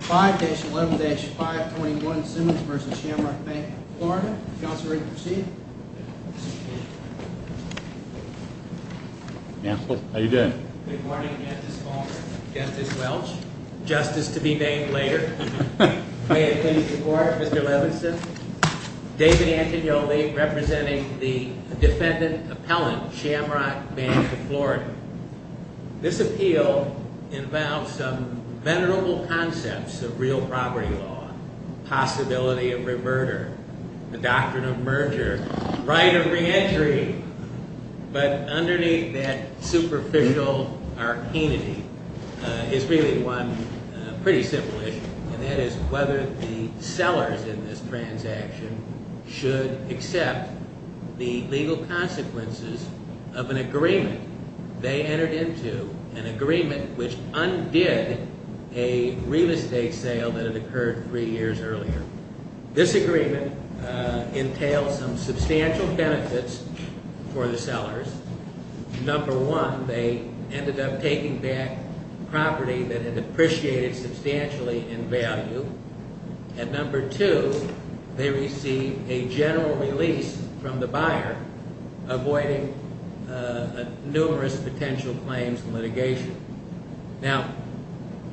5-11-521 Simmons v. Shamrock Bank of Florida. Counselor, are you ready to proceed? Counsel, how are you doing? Good morning, Justice Palmer, Justice Welch, Justice to be named later. May it please the court, Mr. Levinson. David Antignoli, representing the defendant appellant, Shamrock Bank of Florida. This appeal involves some venerable concepts of real property law. Possibility of re-murder, the doctrine of merger, right of re-entry. But underneath that superficial arcanity is really one pretty simple issue. And that is whether the sellers in this transaction should accept the legal consequences of an agreement they entered into, an agreement which undid a real estate sale that had occurred three years earlier. This agreement entails some substantial benefits for the sellers. Number one, they ended up taking back property that had depreciated substantially in value. And number two, they received a general release from the buyer, avoiding numerous potential claims and litigation. Now,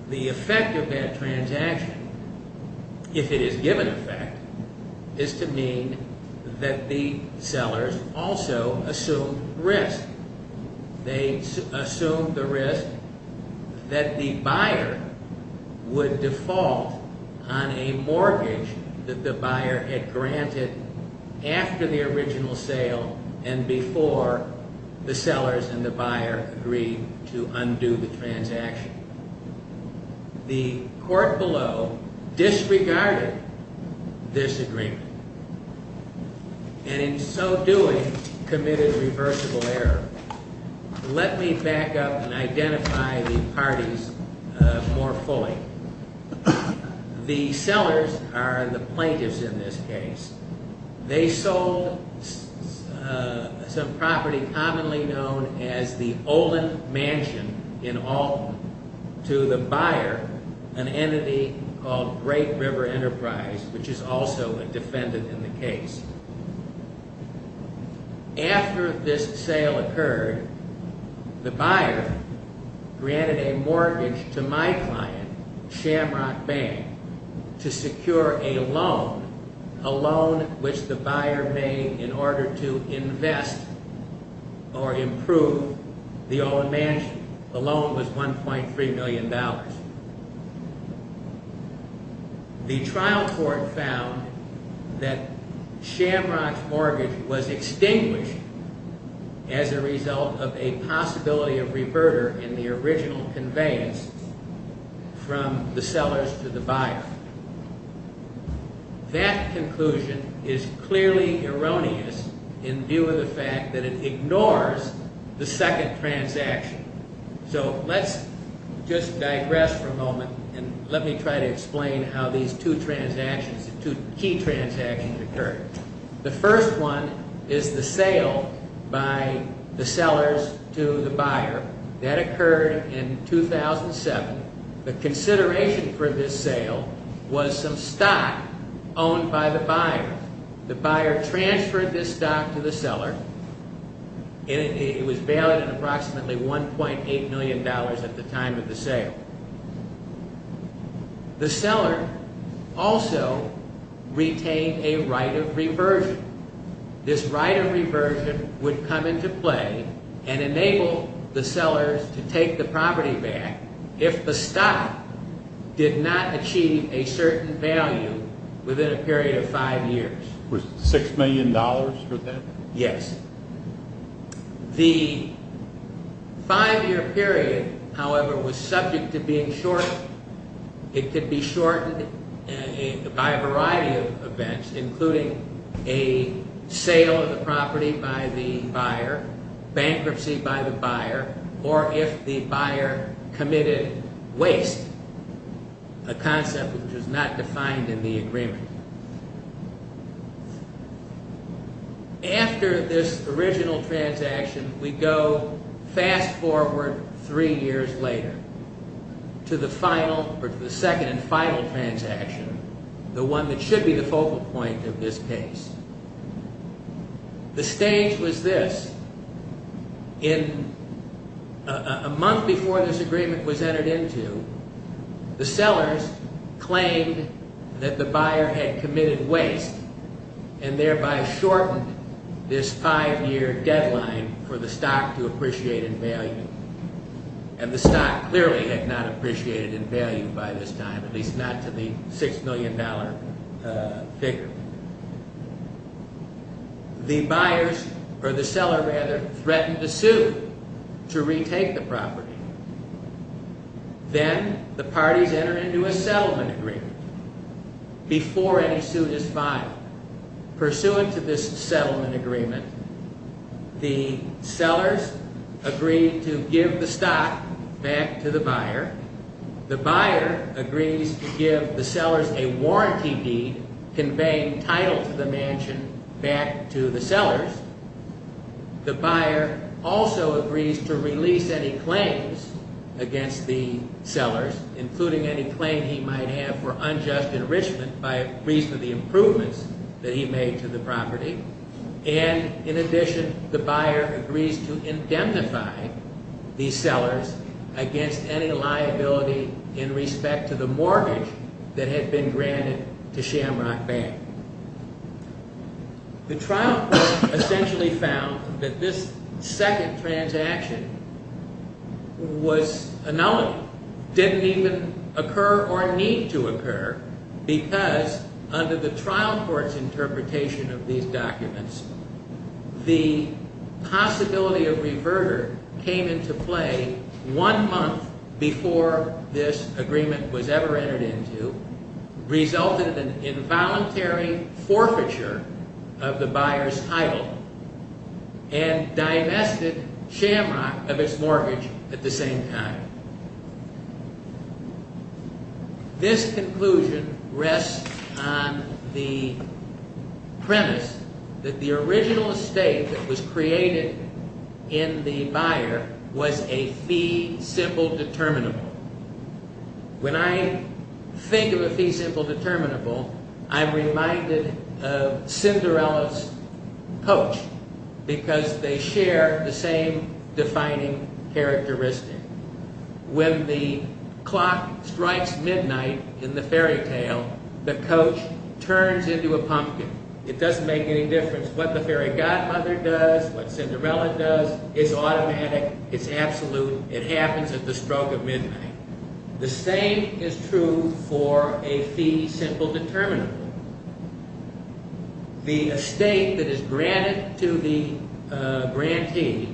the effect of that transaction, if it is given effect, is to mean that the sellers also assumed risk. They assumed the risk that the buyer would default on a mortgage that the buyer had granted after the original sale and before the sellers and the buyer agreed to undo the transaction. The court below disregarded this agreement. And in so doing, committed reversible error. Let me back up and identify the parties more fully. The sellers are the plaintiffs in this case. They sold some property commonly known as the Olin Mansion in Alton to the buyer, an entity called Great River Enterprise, which is also a defendant in the case. After this sale occurred, the buyer granted a mortgage to my client, Shamrock Bank, to secure a loan, a loan which the buyer made in order to invest or improve the Olin Mansion. The loan was $1.3 million. The trial court found that Shamrock's mortgage was extinguished as a result of a possibility of reverter in the original conveyance from the sellers to the buyer. That conclusion is clearly erroneous in view of the fact that it ignores the second transaction. So let's just digress for a moment and let me try to explain how these two transactions, two key transactions occurred. The first one is the sale by the sellers to the buyer. That occurred in 2007. The consideration for this sale was some stock owned by the buyer. The buyer transferred this stock to the seller. It was valued at approximately $1.8 million at the time of the sale. The seller also retained a right of reversion. This right of reversion would come into play and enable the sellers to take the property back if the stock did not achieve a certain value within a period of five years. Was $6 million for that? Yes. The five-year period, however, was subject to being shortened. It could be shortened by a variety of events, including a sale of the property by the buyer, bankruptcy by the buyer, or if the buyer committed waste, a concept which was not defined in the agreement. After this original transaction, we go fast forward three years later to the second and final transaction, the one that should be the focal point of this case. The stage was this. A month before this agreement was entered into, the sellers claimed that the buyer had committed waste and thereby shortened this five-year deadline for the stock to appreciate in value. The stock clearly had not appreciated in value by this time, at least not to the $6 million figure. The seller threatened to sue to retake the property. Then the parties entered into a settlement agreement before any suit is filed. Pursuant to this settlement agreement, the sellers agreed to give the stock back to the buyer. The buyer agrees to give the sellers a warranty deed conveying title to the mansion back to the sellers. The buyer also agrees to release any claims against the sellers, including any claim he might have for unjust enrichment by reason of the improvements that he made to the property. In addition, the buyer agrees to indemnify the sellers against any liability in respect to the mortgage that had been granted to Shamrock Bank. The trial court essentially found that this second transaction was a nullity. It didn't even occur or need to occur because under the trial court's interpretation of these documents, the possibility of reverter came into play one month before this agreement was ever entered into, resulted in involuntary forfeiture of the buyer's title, and divested Shamrock of its mortgage at the same time. This conclusion rests on the premise that the original estate that was created in the buyer was a fee-symbol determinable. When I think of a fee-symbol determinable, I'm reminded of Cinderella's coach because they share the same defining characteristic. When the clock strikes midnight in the fairy tale, the coach turns into a pumpkin. It doesn't make any difference what the fairy godmother does, what Cinderella does. It's automatic, it's absolute, it happens at the stroke of midnight. The same is true for a fee-symbol determinable. The estate that is granted to the grantee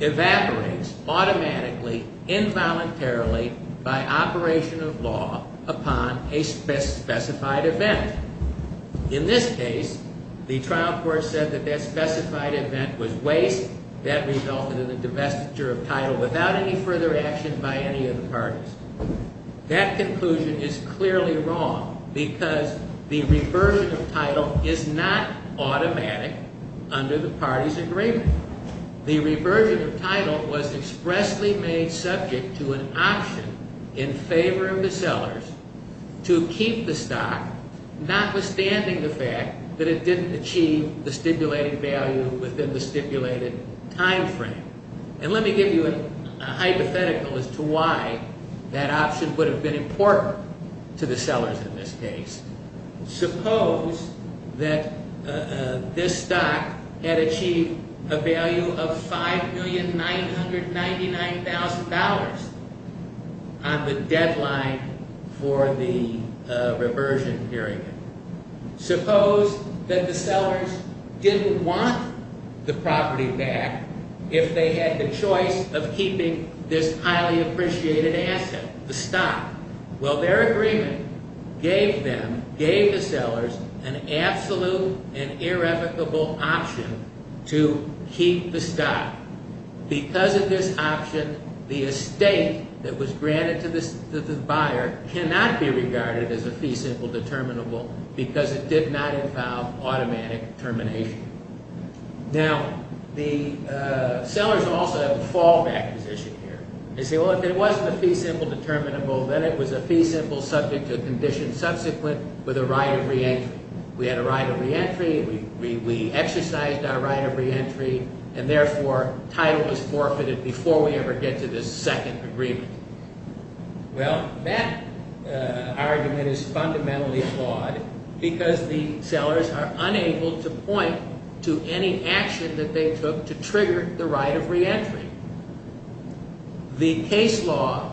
evaporates automatically, involuntarily, by operation of law upon a specified event. In this case, the trial court said that that specified event was waste. That resulted in the divestiture of title without any further action by any of the parties. That conclusion is clearly wrong because the reversion of title is not automatic under the party's agreement. The reversion of title was expressly made subject to an option in favor of the sellers to keep the stock, notwithstanding the fact that it didn't achieve the stipulated value within the stipulated time frame. Let me give you a hypothetical as to why that option would have been important to the sellers in this case. Suppose that this stock had achieved a value of $5,999,000 on the deadline for the reversion period. Suppose that the sellers didn't want the property back if they had the choice of keeping this highly appreciated asset, the stock. Their agreement gave the sellers an absolute and irrevocable option to keep the stock. Because of this option, the estate that was granted to the buyer cannot be regarded as a fee-symbol determinable because it did not involve automatic termination. The sellers also have a fallback position here. They say, well, if it wasn't a fee-symbol determinable, then it was a fee-symbol subject to a condition subsequent with a right of reentry. We had a right of reentry. We exercised our right of reentry. And therefore, title was forfeited before we ever get to this second agreement. Well, that argument is fundamentally flawed because the sellers are unable to point to any action that they took to trigger the right of reentry. The case law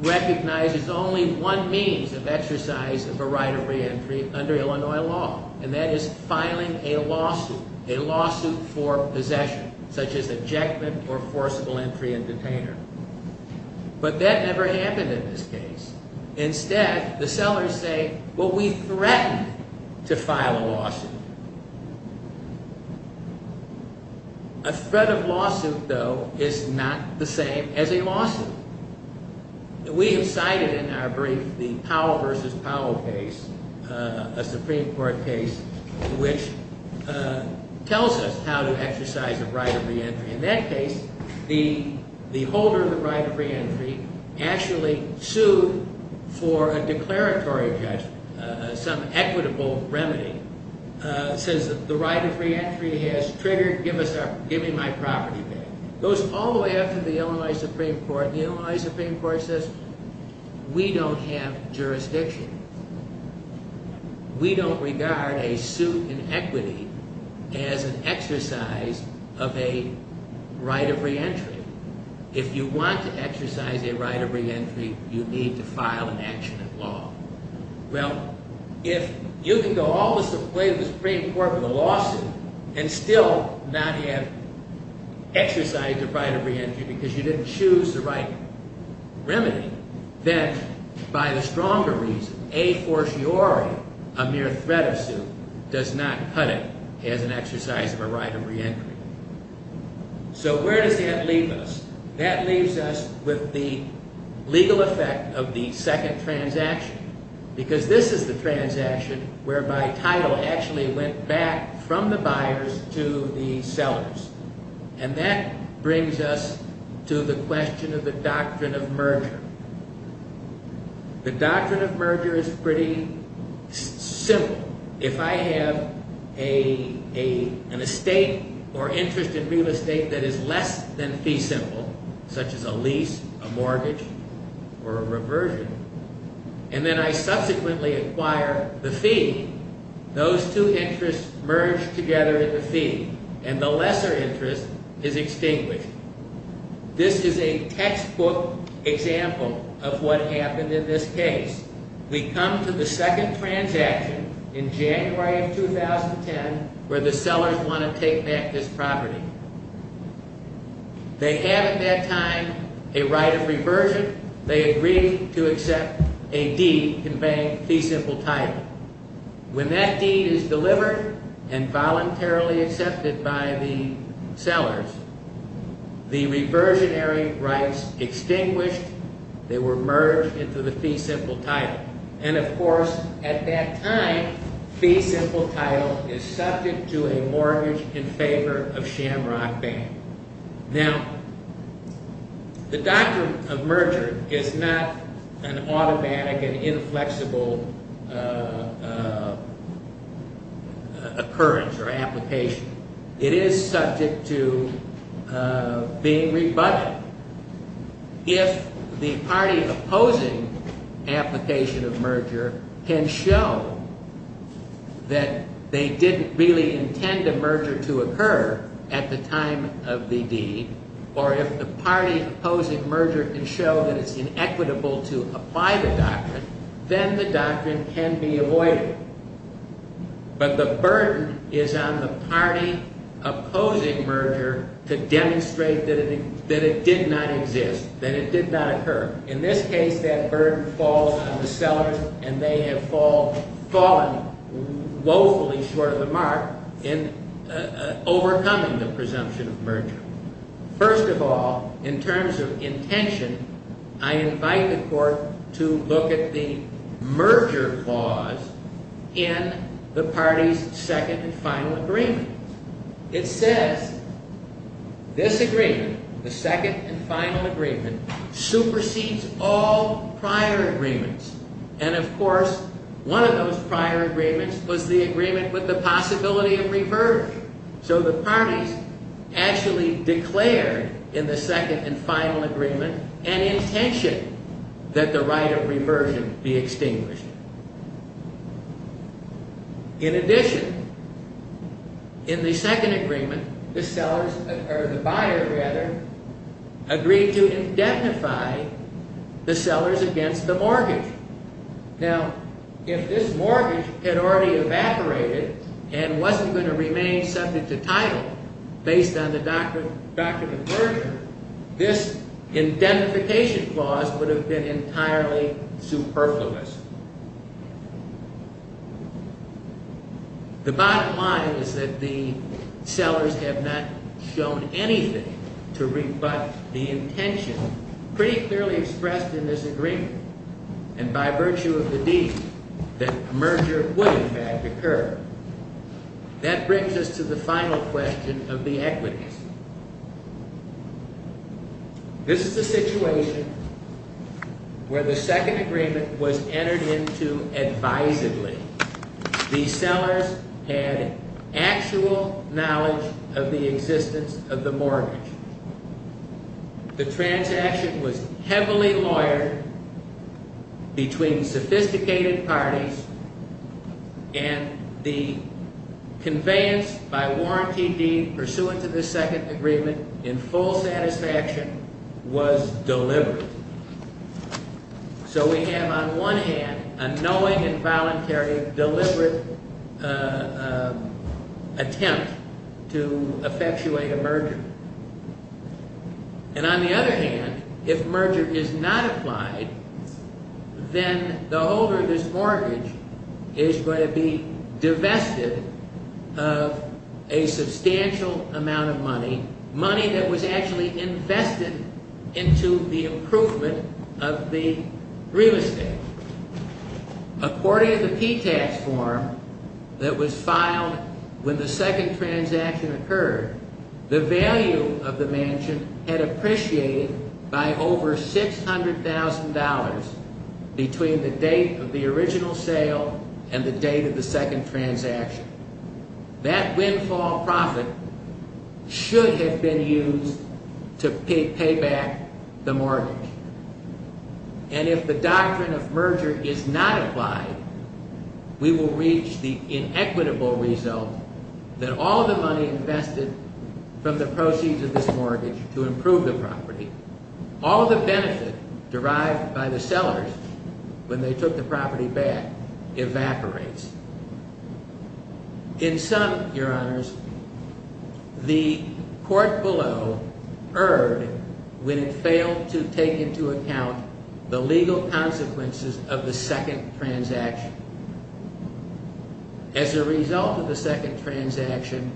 recognizes only one means of exercise of a right of reentry under Illinois law, and that is filing a lawsuit, a lawsuit for possession, such as ejectment or forcible entry and detainer. But that never happened in this case. Instead, the sellers say, well, we threatened to file a lawsuit. A threat of lawsuit, though, is not the same as a lawsuit. We have cited in our brief the Powell v. Powell case, a Supreme Court case, which tells us how to exercise a right of reentry. In that case, the holder of the right of reentry actually sued for a declaratory judgment, some equitable remedy, says that the right of reentry has triggered giving my property back. It goes all the way up to the Illinois Supreme Court, and the Illinois Supreme Court says, we don't have jurisdiction. We don't regard a suit in equity as an exercise of a right of reentry. If you want to exercise a right of reentry, you need to file an action at law. Well, if you can go all the way to the Supreme Court with a lawsuit and still not have exercised a right of reentry because you didn't choose the right remedy, then by the stronger reason, a fortiori, a mere threat of suit does not cut it as an exercise of a right of reentry. So where does that leave us? That leaves us with the legal effect of the second transaction because this is the transaction whereby title actually went back from the buyers to the sellers. And that brings us to the question of the doctrine of merger. The doctrine of merger is pretty simple. If I have an estate or interest in real estate that is less than fee simple, such as a lease, a mortgage, or a reversion, and then I subsequently acquire the fee, those two interests merge together in the fee, and the lesser interest is extinguished. This is a textbook example of what happened in this case. We come to the second transaction in January of 2010 where the sellers want to take back this property. They have at that time a right of reversion. They agree to accept a deed conveying fee simple title. When that deed is delivered and voluntarily accepted by the sellers, the reversionary rights extinguished. They were merged into the fee simple title. And, of course, at that time, fee simple title is subject to a mortgage in favor of Shamrock Bank. Now, the doctrine of merger is not an automatic and inflexible occurrence or application. It is subject to being rebutted. If the party opposing application of merger can show that they didn't really intend a merger to occur at the time of the deed, or if the party opposing merger can show that it's inequitable to apply the doctrine, then the doctrine can be avoided. But the burden is on the party opposing merger to demonstrate that it did not exist, that it did not occur. In this case, that burden falls on the sellers, and they have fallen woefully short of the mark in overcoming the presumption of merger. First of all, in terms of intention, I invite the court to look at the merger clause in the party's second and final agreement. It says this agreement, the second and final agreement, supersedes all prior agreements. And, of course, one of those prior agreements was the agreement with the possibility of reversal. So the parties actually declared in the second and final agreement an intention that the right of reversion be extinguished. In addition, in the second agreement, the buyer agreed to indemnify the sellers against the mortgage. Now, if this mortgage had already evaporated and wasn't going to remain subject to title based on the doctrine of merger, this indemnification clause would have been entirely superfluous. The bottom line is that the sellers have not shown anything to rebut the intention pretty clearly expressed in this agreement, and by virtue of the deed, that merger would in fact occur. That brings us to the final question of the equities. This is the situation where the second agreement was entered into advisedly. The sellers had actual knowledge of the existence of the mortgage. The transaction was heavily lawyered between sophisticated parties, and the conveyance by warranty deed pursuant to the second agreement in full satisfaction was deliberate. So we have on one hand a knowing and voluntary deliberate attempt to effectuate a merger. And on the other hand, if merger is not applied, then the holder of this mortgage is going to be divested of a substantial amount of money, money that was actually invested into the improvement of the real estate. According to the P-Tax form that was filed when the second transaction occurred, the value of the mansion had appreciated by over $600,000 between the date of the original sale and the date of the second transaction. That windfall profit should have been used to pay back the mortgage. And if the doctrine of merger is not applied, we will reach the inequitable result that all the money invested from the proceeds of this mortgage to improve the property, all the benefit derived by the sellers when they took the property back, evaporates. In sum, Your Honors, the court below erred when it failed to take into account the legal consequences of the second transaction. As a result of the second transaction,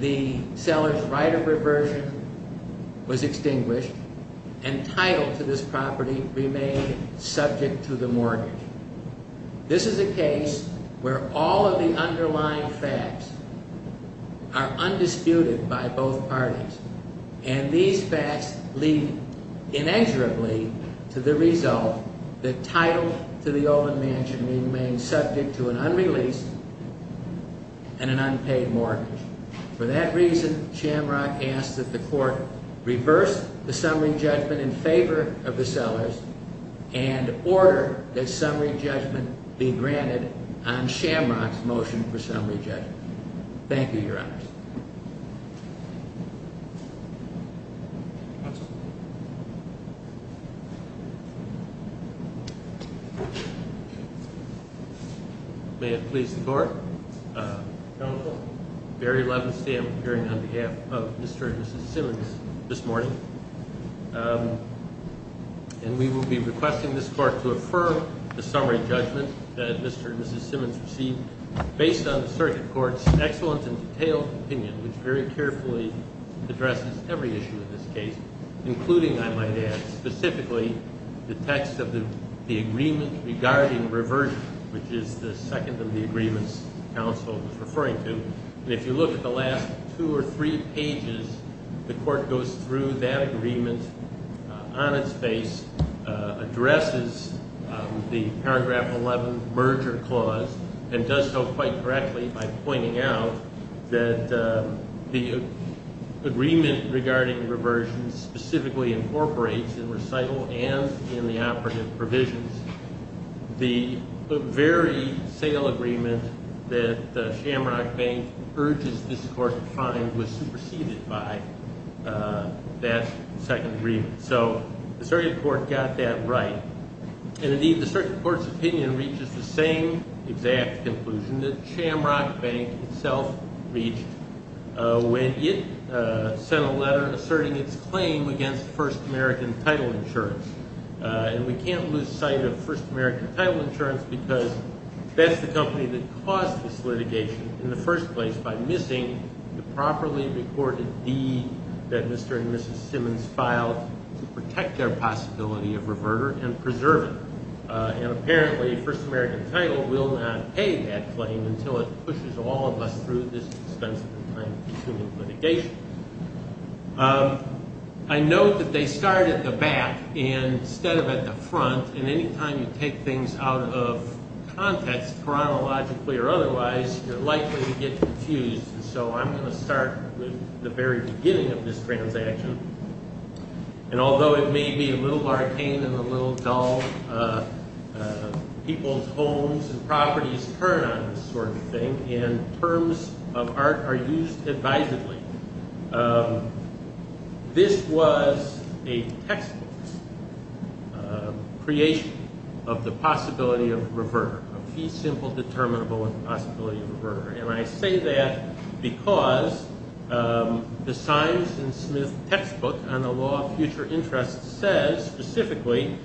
the seller's right of reversion was extinguished, and title to this property remained subject to the mortgage. This is a case where all of the underlying facts are undisputed by both parties. And these facts lead inexorably to the result that title to the Olin mansion remains subject to an unreleased and an unpaid mortgage. For that reason, Shamrock asks that the court reverse the summary judgment in favor of the sellers and order that summary judgment be granted on Shamrock's motion for summary judgment. Thank you, Your Honors. May it please the court. Counsel, Barry Levenstam appearing on behalf of Mr. and Mrs. Simmons this morning. And we will be requesting this court to affirm the summary judgment that Mr. and Mrs. Simmons received based on the circuit court's excellent and detailed opinion, which very carefully addresses every issue in this case, including, I might add, specifically the text of the agreement regarding reversion, which is the second of the agreements counsel was referring to. And if you look at the last two or three pages, the court goes through that agreement on its face, addresses the paragraph 11 merger clause, and does so quite correctly by pointing out that the agreement regarding reversion specifically incorporates in recital and in the operative provisions. The very sale agreement that Shamrock Bank urges this court to find was superseded by that second agreement. So the circuit court got that right. And, indeed, the circuit court's opinion reaches the same exact conclusion that Shamrock Bank itself reached when it sent a letter asserting its claim against First American Title Insurance. And we can't lose sight of First American Title Insurance because that's the company that caused this litigation in the first place by missing the properly reported deed that Mr. and Mrs. Simmons filed to protect their possibility of reverter and preserving it. And, apparently, First American Title will not pay that claim until it pushes all of us through this expensive and time-consuming litigation. I note that they start at the back instead of at the front. And any time you take things out of context, chronologically or otherwise, you're likely to get confused. And so I'm going to start with the very beginning of this transaction. And although it may be a little arcane and a little dull, people's homes and properties turn on this sort of thing, and terms of art are used advisedly. This was a textbook creation of the possibility of reverter, a fee-simple, determinable possibility of reverter. And I say that because the Simons and Smith textbook on the law of future interest says specifically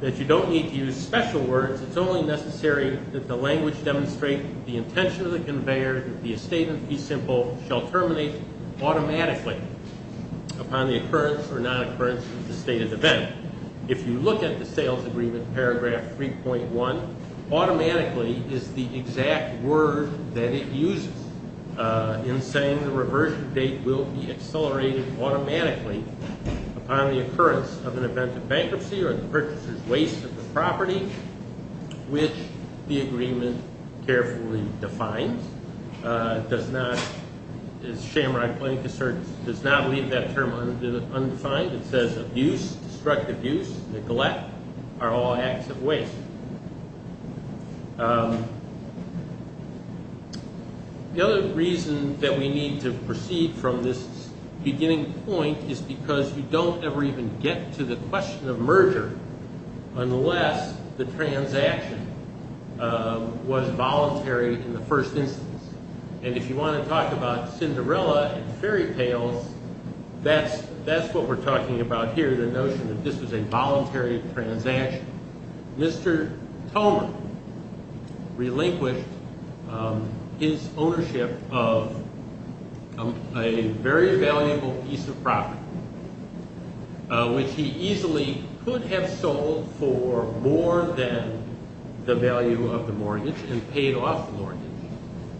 that you don't need to use special words. It's only necessary that the language demonstrate the intention of the conveyor, that the estate of fee-simple shall terminate automatically upon the occurrence or non-occurrence of the stated event. If you look at the sales agreement, paragraph 3.1, automatically is the exact word that it uses in saying the reversion date will be accelerated automatically upon the occurrence of an event of bankruptcy or the purchaser's waste of the property, which the agreement carefully defines. It does not, as Shamrod Plank asserts, does not leave that term undefined. It says abuse, destructive use, neglect are all acts of waste. The other reason that we need to proceed from this beginning point is because you don't ever even get to the question of merger unless the transaction was voluntary in the first instance. And if you want to talk about Cinderella and fairy tales, that's what we're talking about here, the notion that this was a voluntary transaction. Mr. Tolman relinquished his ownership of a very valuable piece of property, which he easily could have sold for more than the value of the mortgage and paid off the mortgage,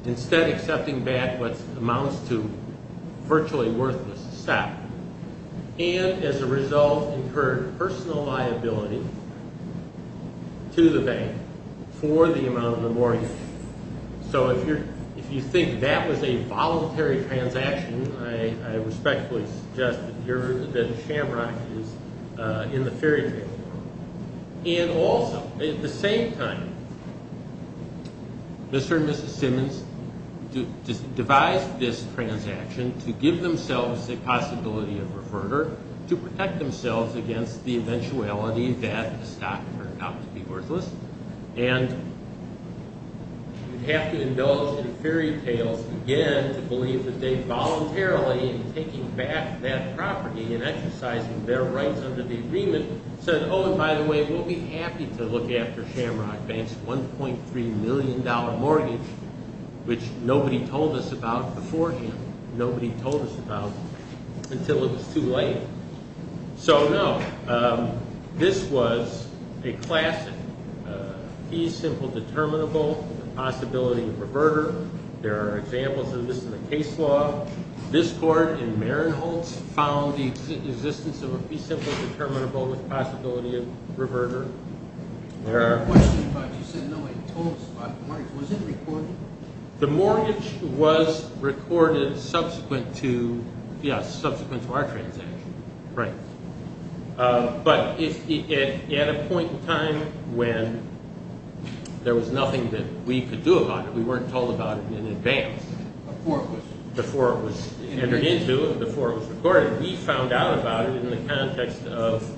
instead accepting back what amounts to virtually worthless stock. And as a result, incurred personal liability to the bank for the amount of the mortgage. So if you think that was a voluntary transaction, I respectfully suggest that Shamrod is in the fairy tale. And also, at the same time, Mr. and Mrs. Simmons devised this transaction to give themselves the possibility of reverter to protect themselves against the eventuality that the stock turned out to be worthless. And you'd have to indulge in fairy tales again to believe that they voluntarily, in taking back that property and exercising their rights under the agreement, said, oh, and by the way, we'll be happy to look after Shamrod Bank's $1.3 million mortgage, which nobody told us about before him. Nobody told us about it until it was too late. So no, this was a classic fee simple determinable with the possibility of reverter. There are examples of this in the case law. This court in Marinholtz found the existence of a fee simple determinable with the possibility of reverter. The mortgage was recorded subsequent to our transaction. Right. But at a point in time when there was nothing that we could do about it, we weren't told about it in advance. Before it was entered into, before it was recorded. We found out about it in the context of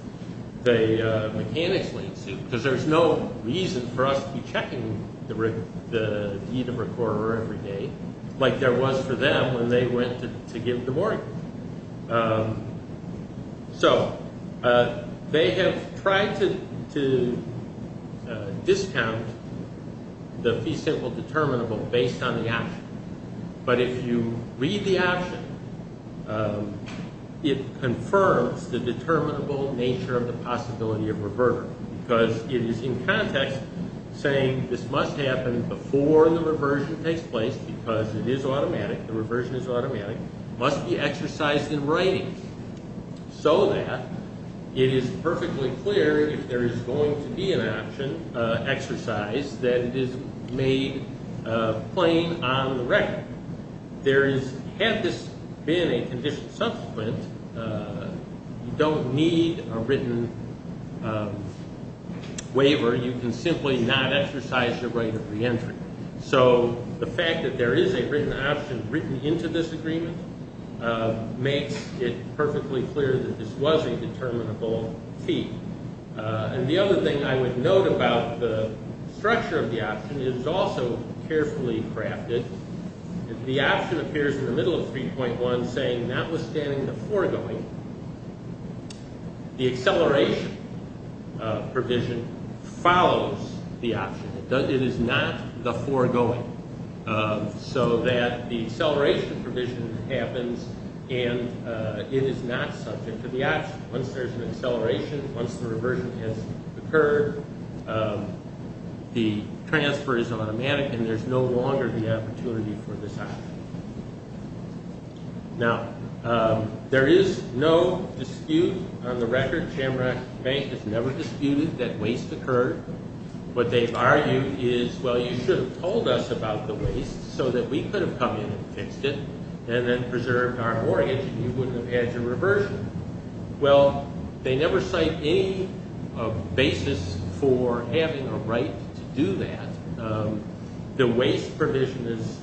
the mechanics latency, because there's no reason for us to be checking the deed of recorder every day like there was for them when they went to give the mortgage. So they have tried to discount the fee simple determinable based on the action. But if you read the action, it confirms the determinable nature of the possibility of reverter, because it is in context saying this must happen before the reversion takes place because it is automatic. The reversion is automatic. It must be exercised in writing so that it is perfectly clear if there is going to be an option exercise that it is made plain on the record. There is, had this been a condition subsequent, you don't need a written waiver. You can simply not exercise the right of reentry. So the fact that there is a written option written into this agreement makes it perfectly clear that this was a determinable fee. And the other thing I would note about the structure of the option is also carefully crafted. The option appears in the middle of 3.1 saying notwithstanding the foregoing, the acceleration provision follows the option. It is not the foregoing so that the acceleration provision happens and it is not subject to the option. Once there is an acceleration, once the reversion has occurred, the transfer is automatic and there is no longer the opportunity for this option. Now, there is no dispute on the record. Chamberbank has never disputed that waste occurred. What they have argued is, well, you should have told us about the waste so that we could have come in and fixed it and then preserved our mortgage and you wouldn't have had your reversion. Well, they never cite any basis for having a right to do that. The waste provision is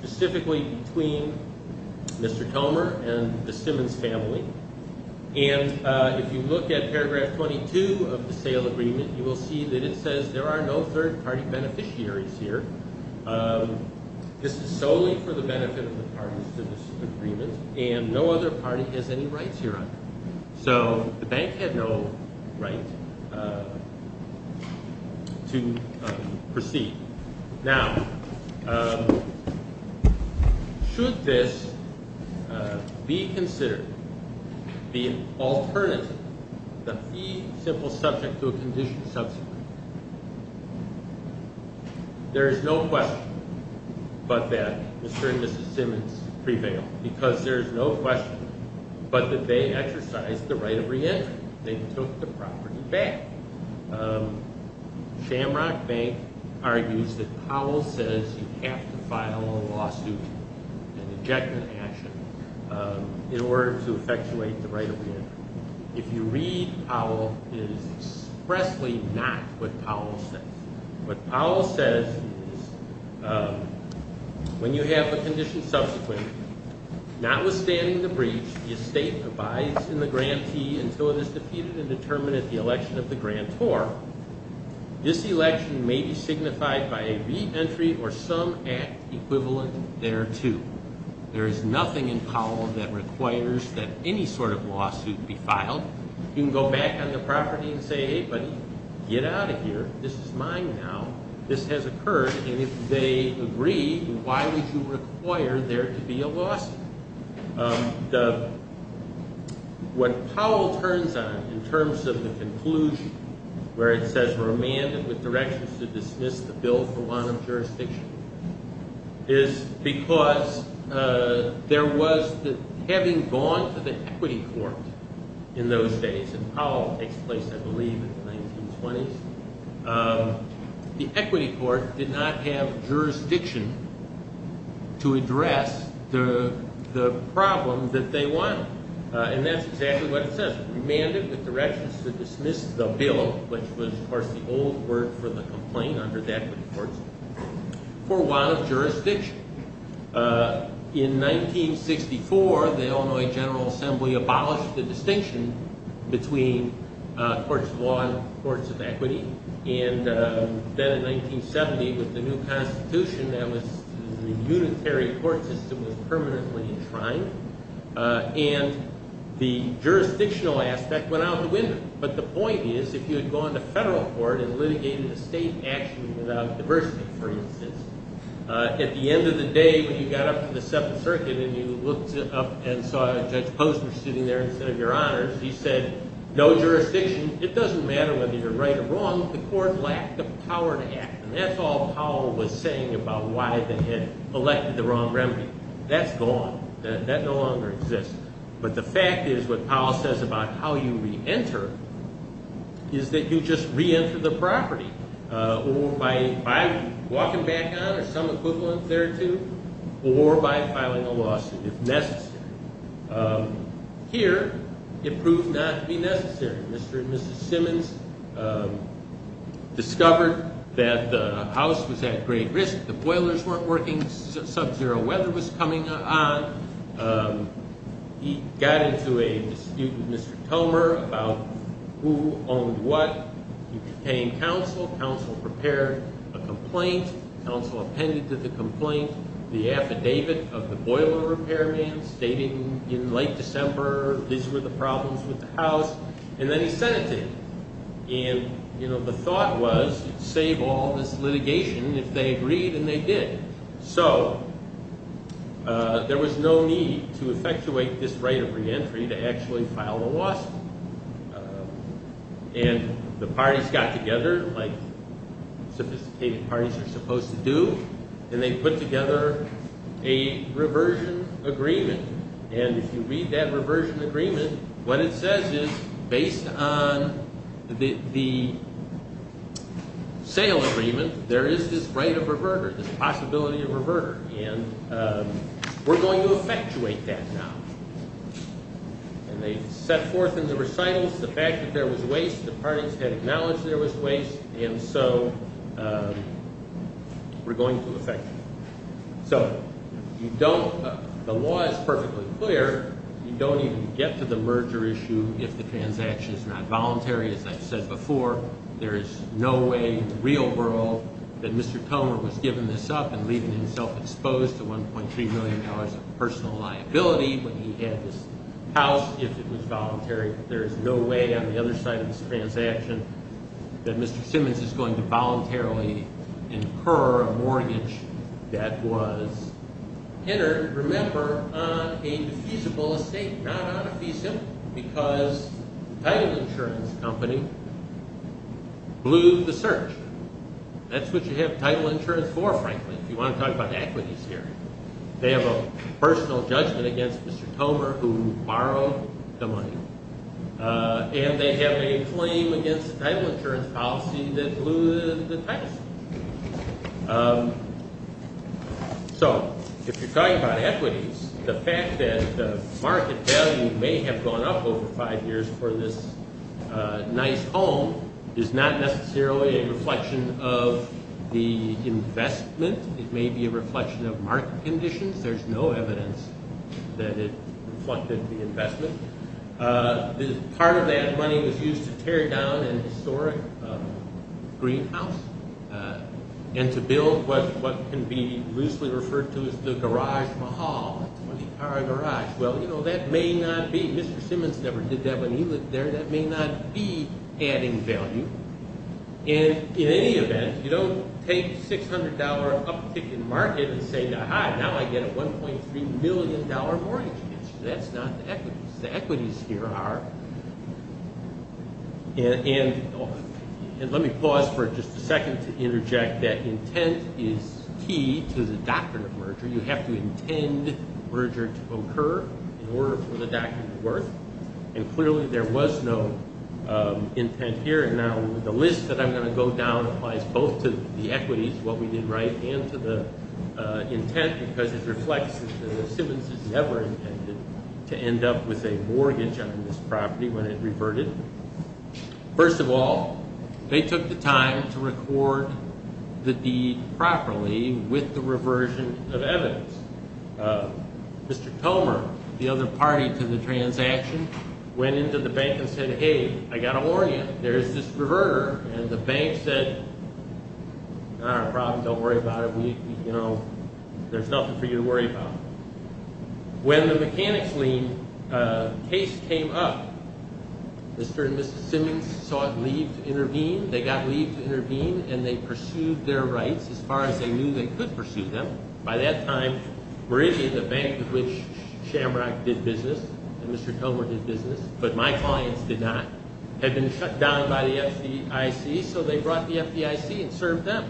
specifically between Mr. Tomer and the Simmons family. And if you look at paragraph 22 of the sale agreement, you will see that it says there are no third party beneficiaries here. This is solely for the benefit of the parties to this agreement and no other party has any rights here. So the bank had no right to proceed. Now, should this be considered the alternative, the fee simple subject to a condition subsequent? There is no question but that Mr. and Mrs. Simmons prevailed because there is no question but that they exercised the right of reentry. They took the property back. Shamrock Bank argues that Powell says you have to file a lawsuit, an ejection action, in order to effectuate the right of reentry. If you read Powell, it is expressly not what Powell says. What Powell says is when you have a condition subsequent, notwithstanding the breach, the estate abides in the grantee until it is defeated and determined at the election of the grantor, this election may be signified by a reentry or some act equivalent thereto. There is nothing in Powell that requires that any sort of lawsuit be filed. You can go back on the property and say, hey buddy, get out of here. This is mine now. This has occurred and if they agree, why would you require there to be a lawsuit? What Powell turns on in terms of the conclusion where it says we're remanded with directions to dismiss the bill for want of jurisdiction is because there was, having gone to the equity court in those days, and Powell takes place I believe in the 1920s, the equity court did not have jurisdiction to address the problem that they wanted. And that's exactly what it says. Remanded with directions to dismiss the bill, which was of course the old word for the complaint under the equity courts, for want of jurisdiction. In 1964, the Illinois General Assembly abolished the distinction between courts of law and courts of equity. And then in 1970, with the new constitution, the unitary court system was permanently enshrined. And the jurisdictional aspect went out the window. But the point is, if you had gone to federal court and litigated a state action without diversity, for instance, at the end of the day when you got up to the Seventh Circuit and you looked up and saw Judge Posner sitting there instead of your honors, he said, no jurisdiction, it doesn't matter whether you're right or wrong, the court lacked the power to act. And that's all Powell was saying about why they had elected the wrong remedy. That's gone. That no longer exists. But the fact is what Powell says about how you reenter is that you just reenter the property by walking back on it or some equivalent thereto or by filing a lawsuit if necessary. Here, it proved not to be necessary. Mr. and Mrs. Simmons discovered that the house was at great risk. The boilers weren't working. Subzero weather was coming on. He got into a dispute with Mr. Tomer about who owned what. He became counsel. Counsel prepared a complaint. Counsel appended to the complaint the affidavit of the boiler repairman stating in late December these were the problems with the house. And then he sent it to him. And, you know, the thought was save all this litigation if they agreed and they did. So there was no need to effectuate this right of reentry to actually file a lawsuit. And the parties got together like sophisticated parties are supposed to do, and they put together a reversion agreement. And if you read that reversion agreement, what it says is based on the sale agreement, there is this right of reverter, this possibility of reverter. And we're going to effectuate that now. And they set forth in the recitals the fact that there was waste. The parties had acknowledged there was waste. And so we're going to effectuate. So you don't – the law is perfectly clear. You don't even get to the merger issue if the transaction is not voluntary. As I've said before, there is no way in the real world that Mr. Tomer was giving this up and leaving himself exposed to $1.3 million of personal liability when he had this house if it was voluntary. There is no way on the other side of this transaction that Mr. Simmons is going to voluntarily incur a mortgage that was entered, remember, on a defeasible estate, not on a feasible, because the title insurance company blew the search. That's what you have title insurance for, frankly, if you want to talk about equities here. They have a personal judgment against Mr. Tomer who borrowed the money. And they have a claim against the title insurance policy that blew the title. So if you're talking about equities, the fact that the market value may have gone up over five years for this nice home is not necessarily a reflection of the investment. It may be a reflection of market conditions. There's no evidence that it reflected the investment. Part of that money was used to tear down an historic greenhouse and to build what can be loosely referred to as the garage mahal, a 20-car garage. Well, you know, that may not be – Mr. Simmons never did that when he lived there. That may not be adding value. And in any event, you don't take a $600 uptick in the market and say, now I get a $1.3 million mortgage. That's not the equities. The equities here are – and let me pause for just a second to interject that intent is key to the doctrine of merger. You have to intend merger to occur in order for the doctrine to work. And clearly there was no intent here. And now the list that I'm going to go down applies both to the equities, what we did right, and to the intent, because it reflects that the Simmonses never intended to end up with a mortgage on this property when it reverted. First of all, they took the time to record the deed properly with the reversion of evidence. Mr. Tomer, the other party to the transaction, went into the bank and said, hey, I got to warn you. There's this reverter. And the bank said, all right, no problem. Don't worry about it. We – you know, there's nothing for you to worry about. When the mechanics lien case came up, Mr. and Mrs. Simmons sought leave to intervene. They got leave to intervene, and they pursued their rights as far as they knew they could pursue them. By that time, Meridian, the bank with which Shamrock did business and Mr. Tomer did business, but my clients did not, had been shut down by the FDIC, so they brought the FDIC and served them.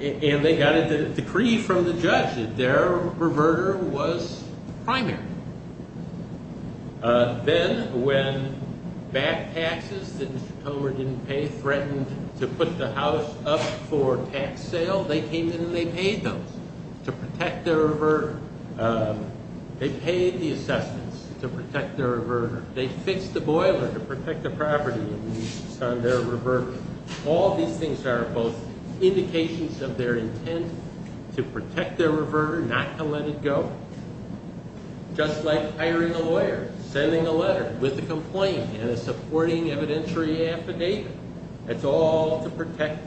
And they got a decree from the judge that their reverter was primary. Then, when back taxes that Mr. Tomer didn't pay threatened to put the house up for tax sale, they came in and they paid those to protect their reverter. They paid the assessments to protect their reverter. They fixed the boiler to protect the property on their reverter. All these things are both indications of their intent to protect their reverter, not to let it go, just like hiring a lawyer, sending a letter with a complaint and a supporting evidentiary affidavit. That's all to protect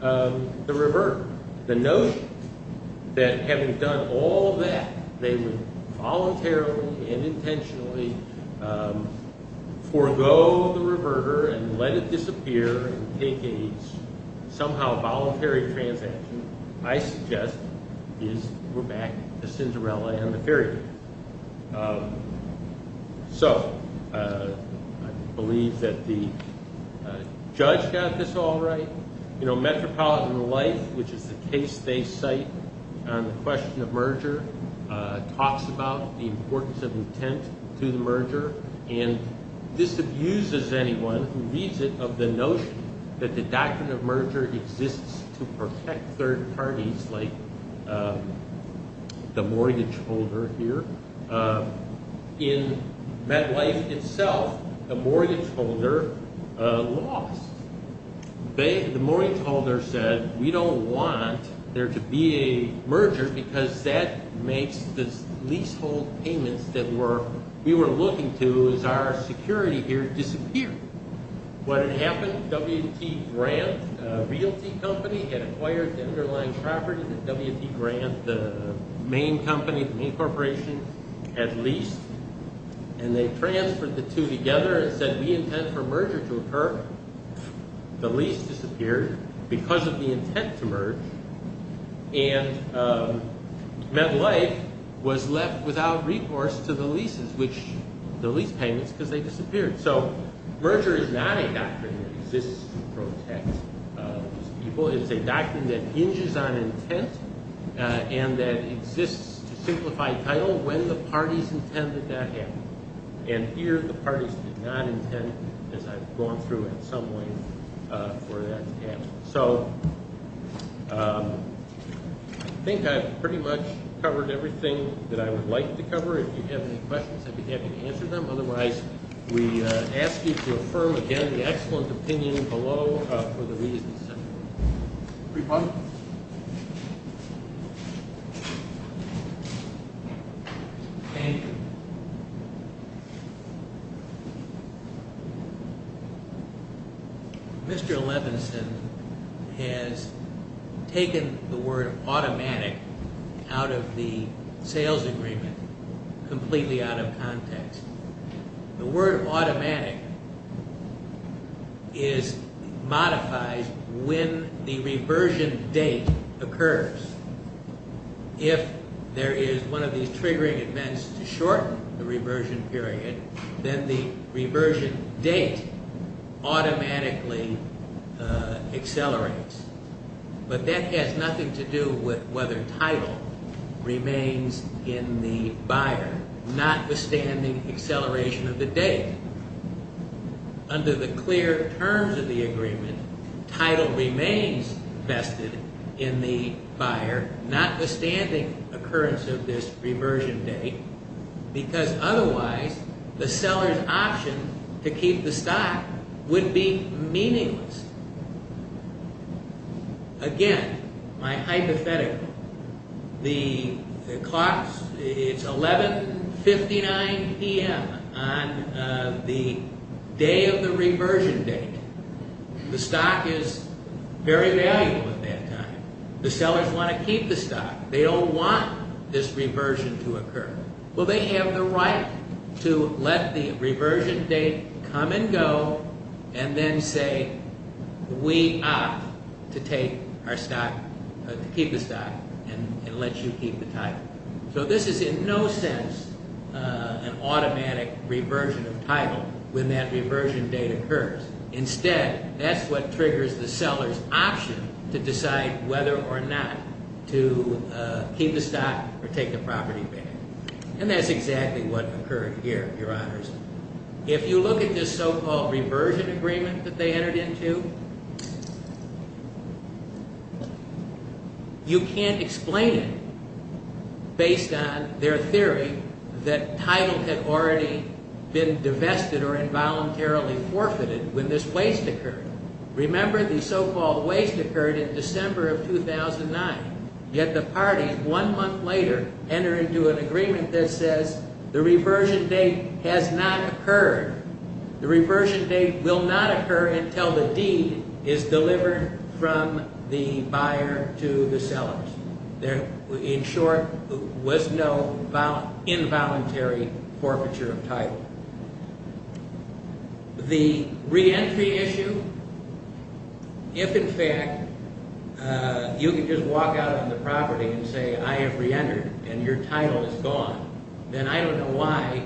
the reverter. The notion that having done all that, they would voluntarily and intentionally forego the reverter and let it disappear and take a somehow voluntary transaction, I suggest, is the Cinderella and the fairy tale. So, I believe that the judge got this all right. Metropolitan Life, which is the case they cite on the question of merger, talks about the importance of intent to the merger, and this abuses anyone who reads it of the notion that the doctrine of merger exists to protect third parties, like the mortgage holder here. In MetLife itself, the mortgage holder lost. The mortgage holder said, we don't want there to be a merger because that makes the leasehold payments that we were looking to as our security here disappear. What had happened, W.T. Grant, a realty company, had acquired the underlying property that W.T. Grant, the main company, the main corporation, had leased. And they transferred the two together and said, we intend for merger to occur. The lease disappeared because of the intent to merge. And MetLife was left without recourse to the leases, which the lease payments, because they disappeared. So, merger is not a doctrine that exists to protect people. It's a doctrine that hinges on intent and that exists to simplify title when the parties intend that that happens. And here, the parties did not intend, as I've gone through in some ways, for that to happen. So, I think I've pretty much covered everything that I would like to cover. If you have any questions, I'd be happy to answer them. Otherwise, we ask you to affirm again the excellent opinion below for the reasons set forth. Any questions? Thank you. Mr. Levinson has taken the word automatic out of the sales agreement, completely out of context. The word automatic modifies when the reversion date occurs. If there is one of these triggering events to shorten the reversion period, then the reversion date automatically accelerates. But that has nothing to do with whether title remains in the buyer, notwithstanding acceleration of the date. Under the clear terms of the agreement, title remains vested in the buyer, notwithstanding occurrence of this reversion date, because otherwise, the seller's option to keep the stock would be meaningless. Again, my hypothetical, it's 11.59 p.m. on the day of the reversion date. The stock is very valuable at that time. The sellers want to keep the stock. They don't want this reversion to occur. Well, they have the right to let the reversion date come and go and then say we opt to keep the stock and let you keep the title. So this is in no sense an automatic reversion of title when that reversion date occurs. Instead, that's what triggers the seller's option to decide whether or not to keep the stock or take the property back. And that's exactly what occurred here, Your Honors. If you look at this so-called reversion agreement that they entered into, you can't explain it based on their theory that title had already been divested or involuntarily forfeited when this waste occurred. Remember, the so-called waste occurred in December of 2009, yet the party one month later entered into an agreement that says the reversion date has not occurred. The reversion date will not occur until the deed is delivered from the buyer to the sellers. In short, there was no involuntary forfeiture of title. The reentry issue, if in fact you could just walk out on the property and say, I have reentered and your title is gone, then I don't know why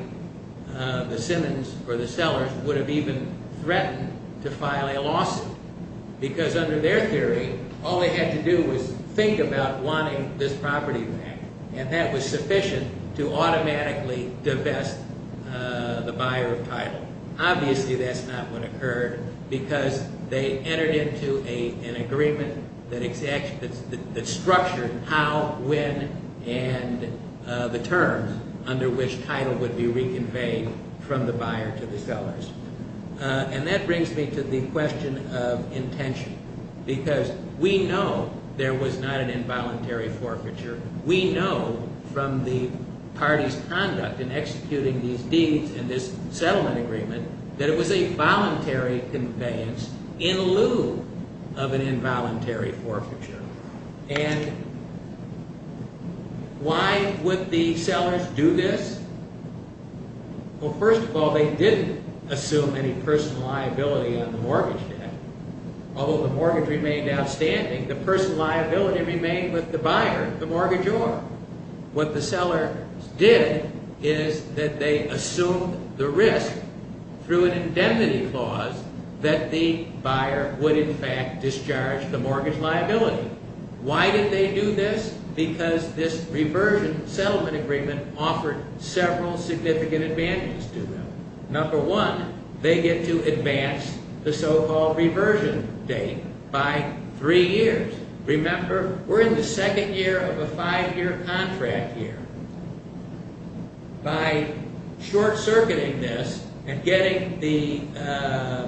the Simmons or the sellers would have even threatened to file a lawsuit because under their theory, all they had to do was think about wanting this property back, and that was sufficient to automatically divest the buyer of title. Obviously, that's not what occurred because they entered into an agreement that structured how, when, and the terms under which title would be reconveyed from the buyer to the sellers. And that brings me to the question of intention because we know there was not an involuntary forfeiture. We know from the party's conduct in executing these deeds and this settlement agreement that it was a voluntary conveyance in lieu of an involuntary forfeiture. And why would the sellers do this? Well, first of all, they didn't assume any personal liability on the mortgage debt. Although the mortgage remained outstanding, the personal liability remained with the buyer. What the sellers did is that they assumed the risk through an indemnity clause that the buyer would, in fact, discharge the mortgage liability. Why did they do this? Because this reversion settlement agreement offered several significant advantages to them. Number one, they get to advance the so-called reversion date by three years. Remember, we're in the second year of a five-year contract here. By short-circuiting this and getting the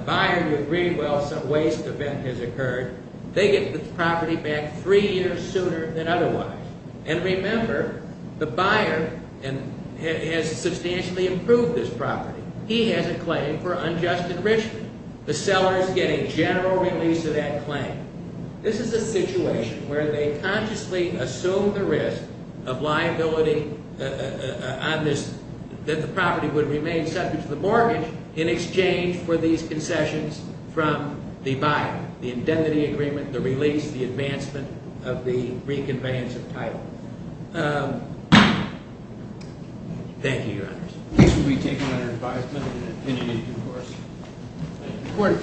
buyer to agree, well, some waste event has occurred, they get the property back three years sooner than otherwise. And remember, the buyer has substantially improved this property. He has a claim for unjust enrichment. The seller is getting general release of that claim. This is a situation where they consciously assume the risk of liability on this, that the property would remain subject to the mortgage in exchange for these concessions from the buyer, the indemnity agreement, the release, the advancement of the reconveyance of title. Thank you, Your Honors. This will be taken under advisement and an opinion in due course.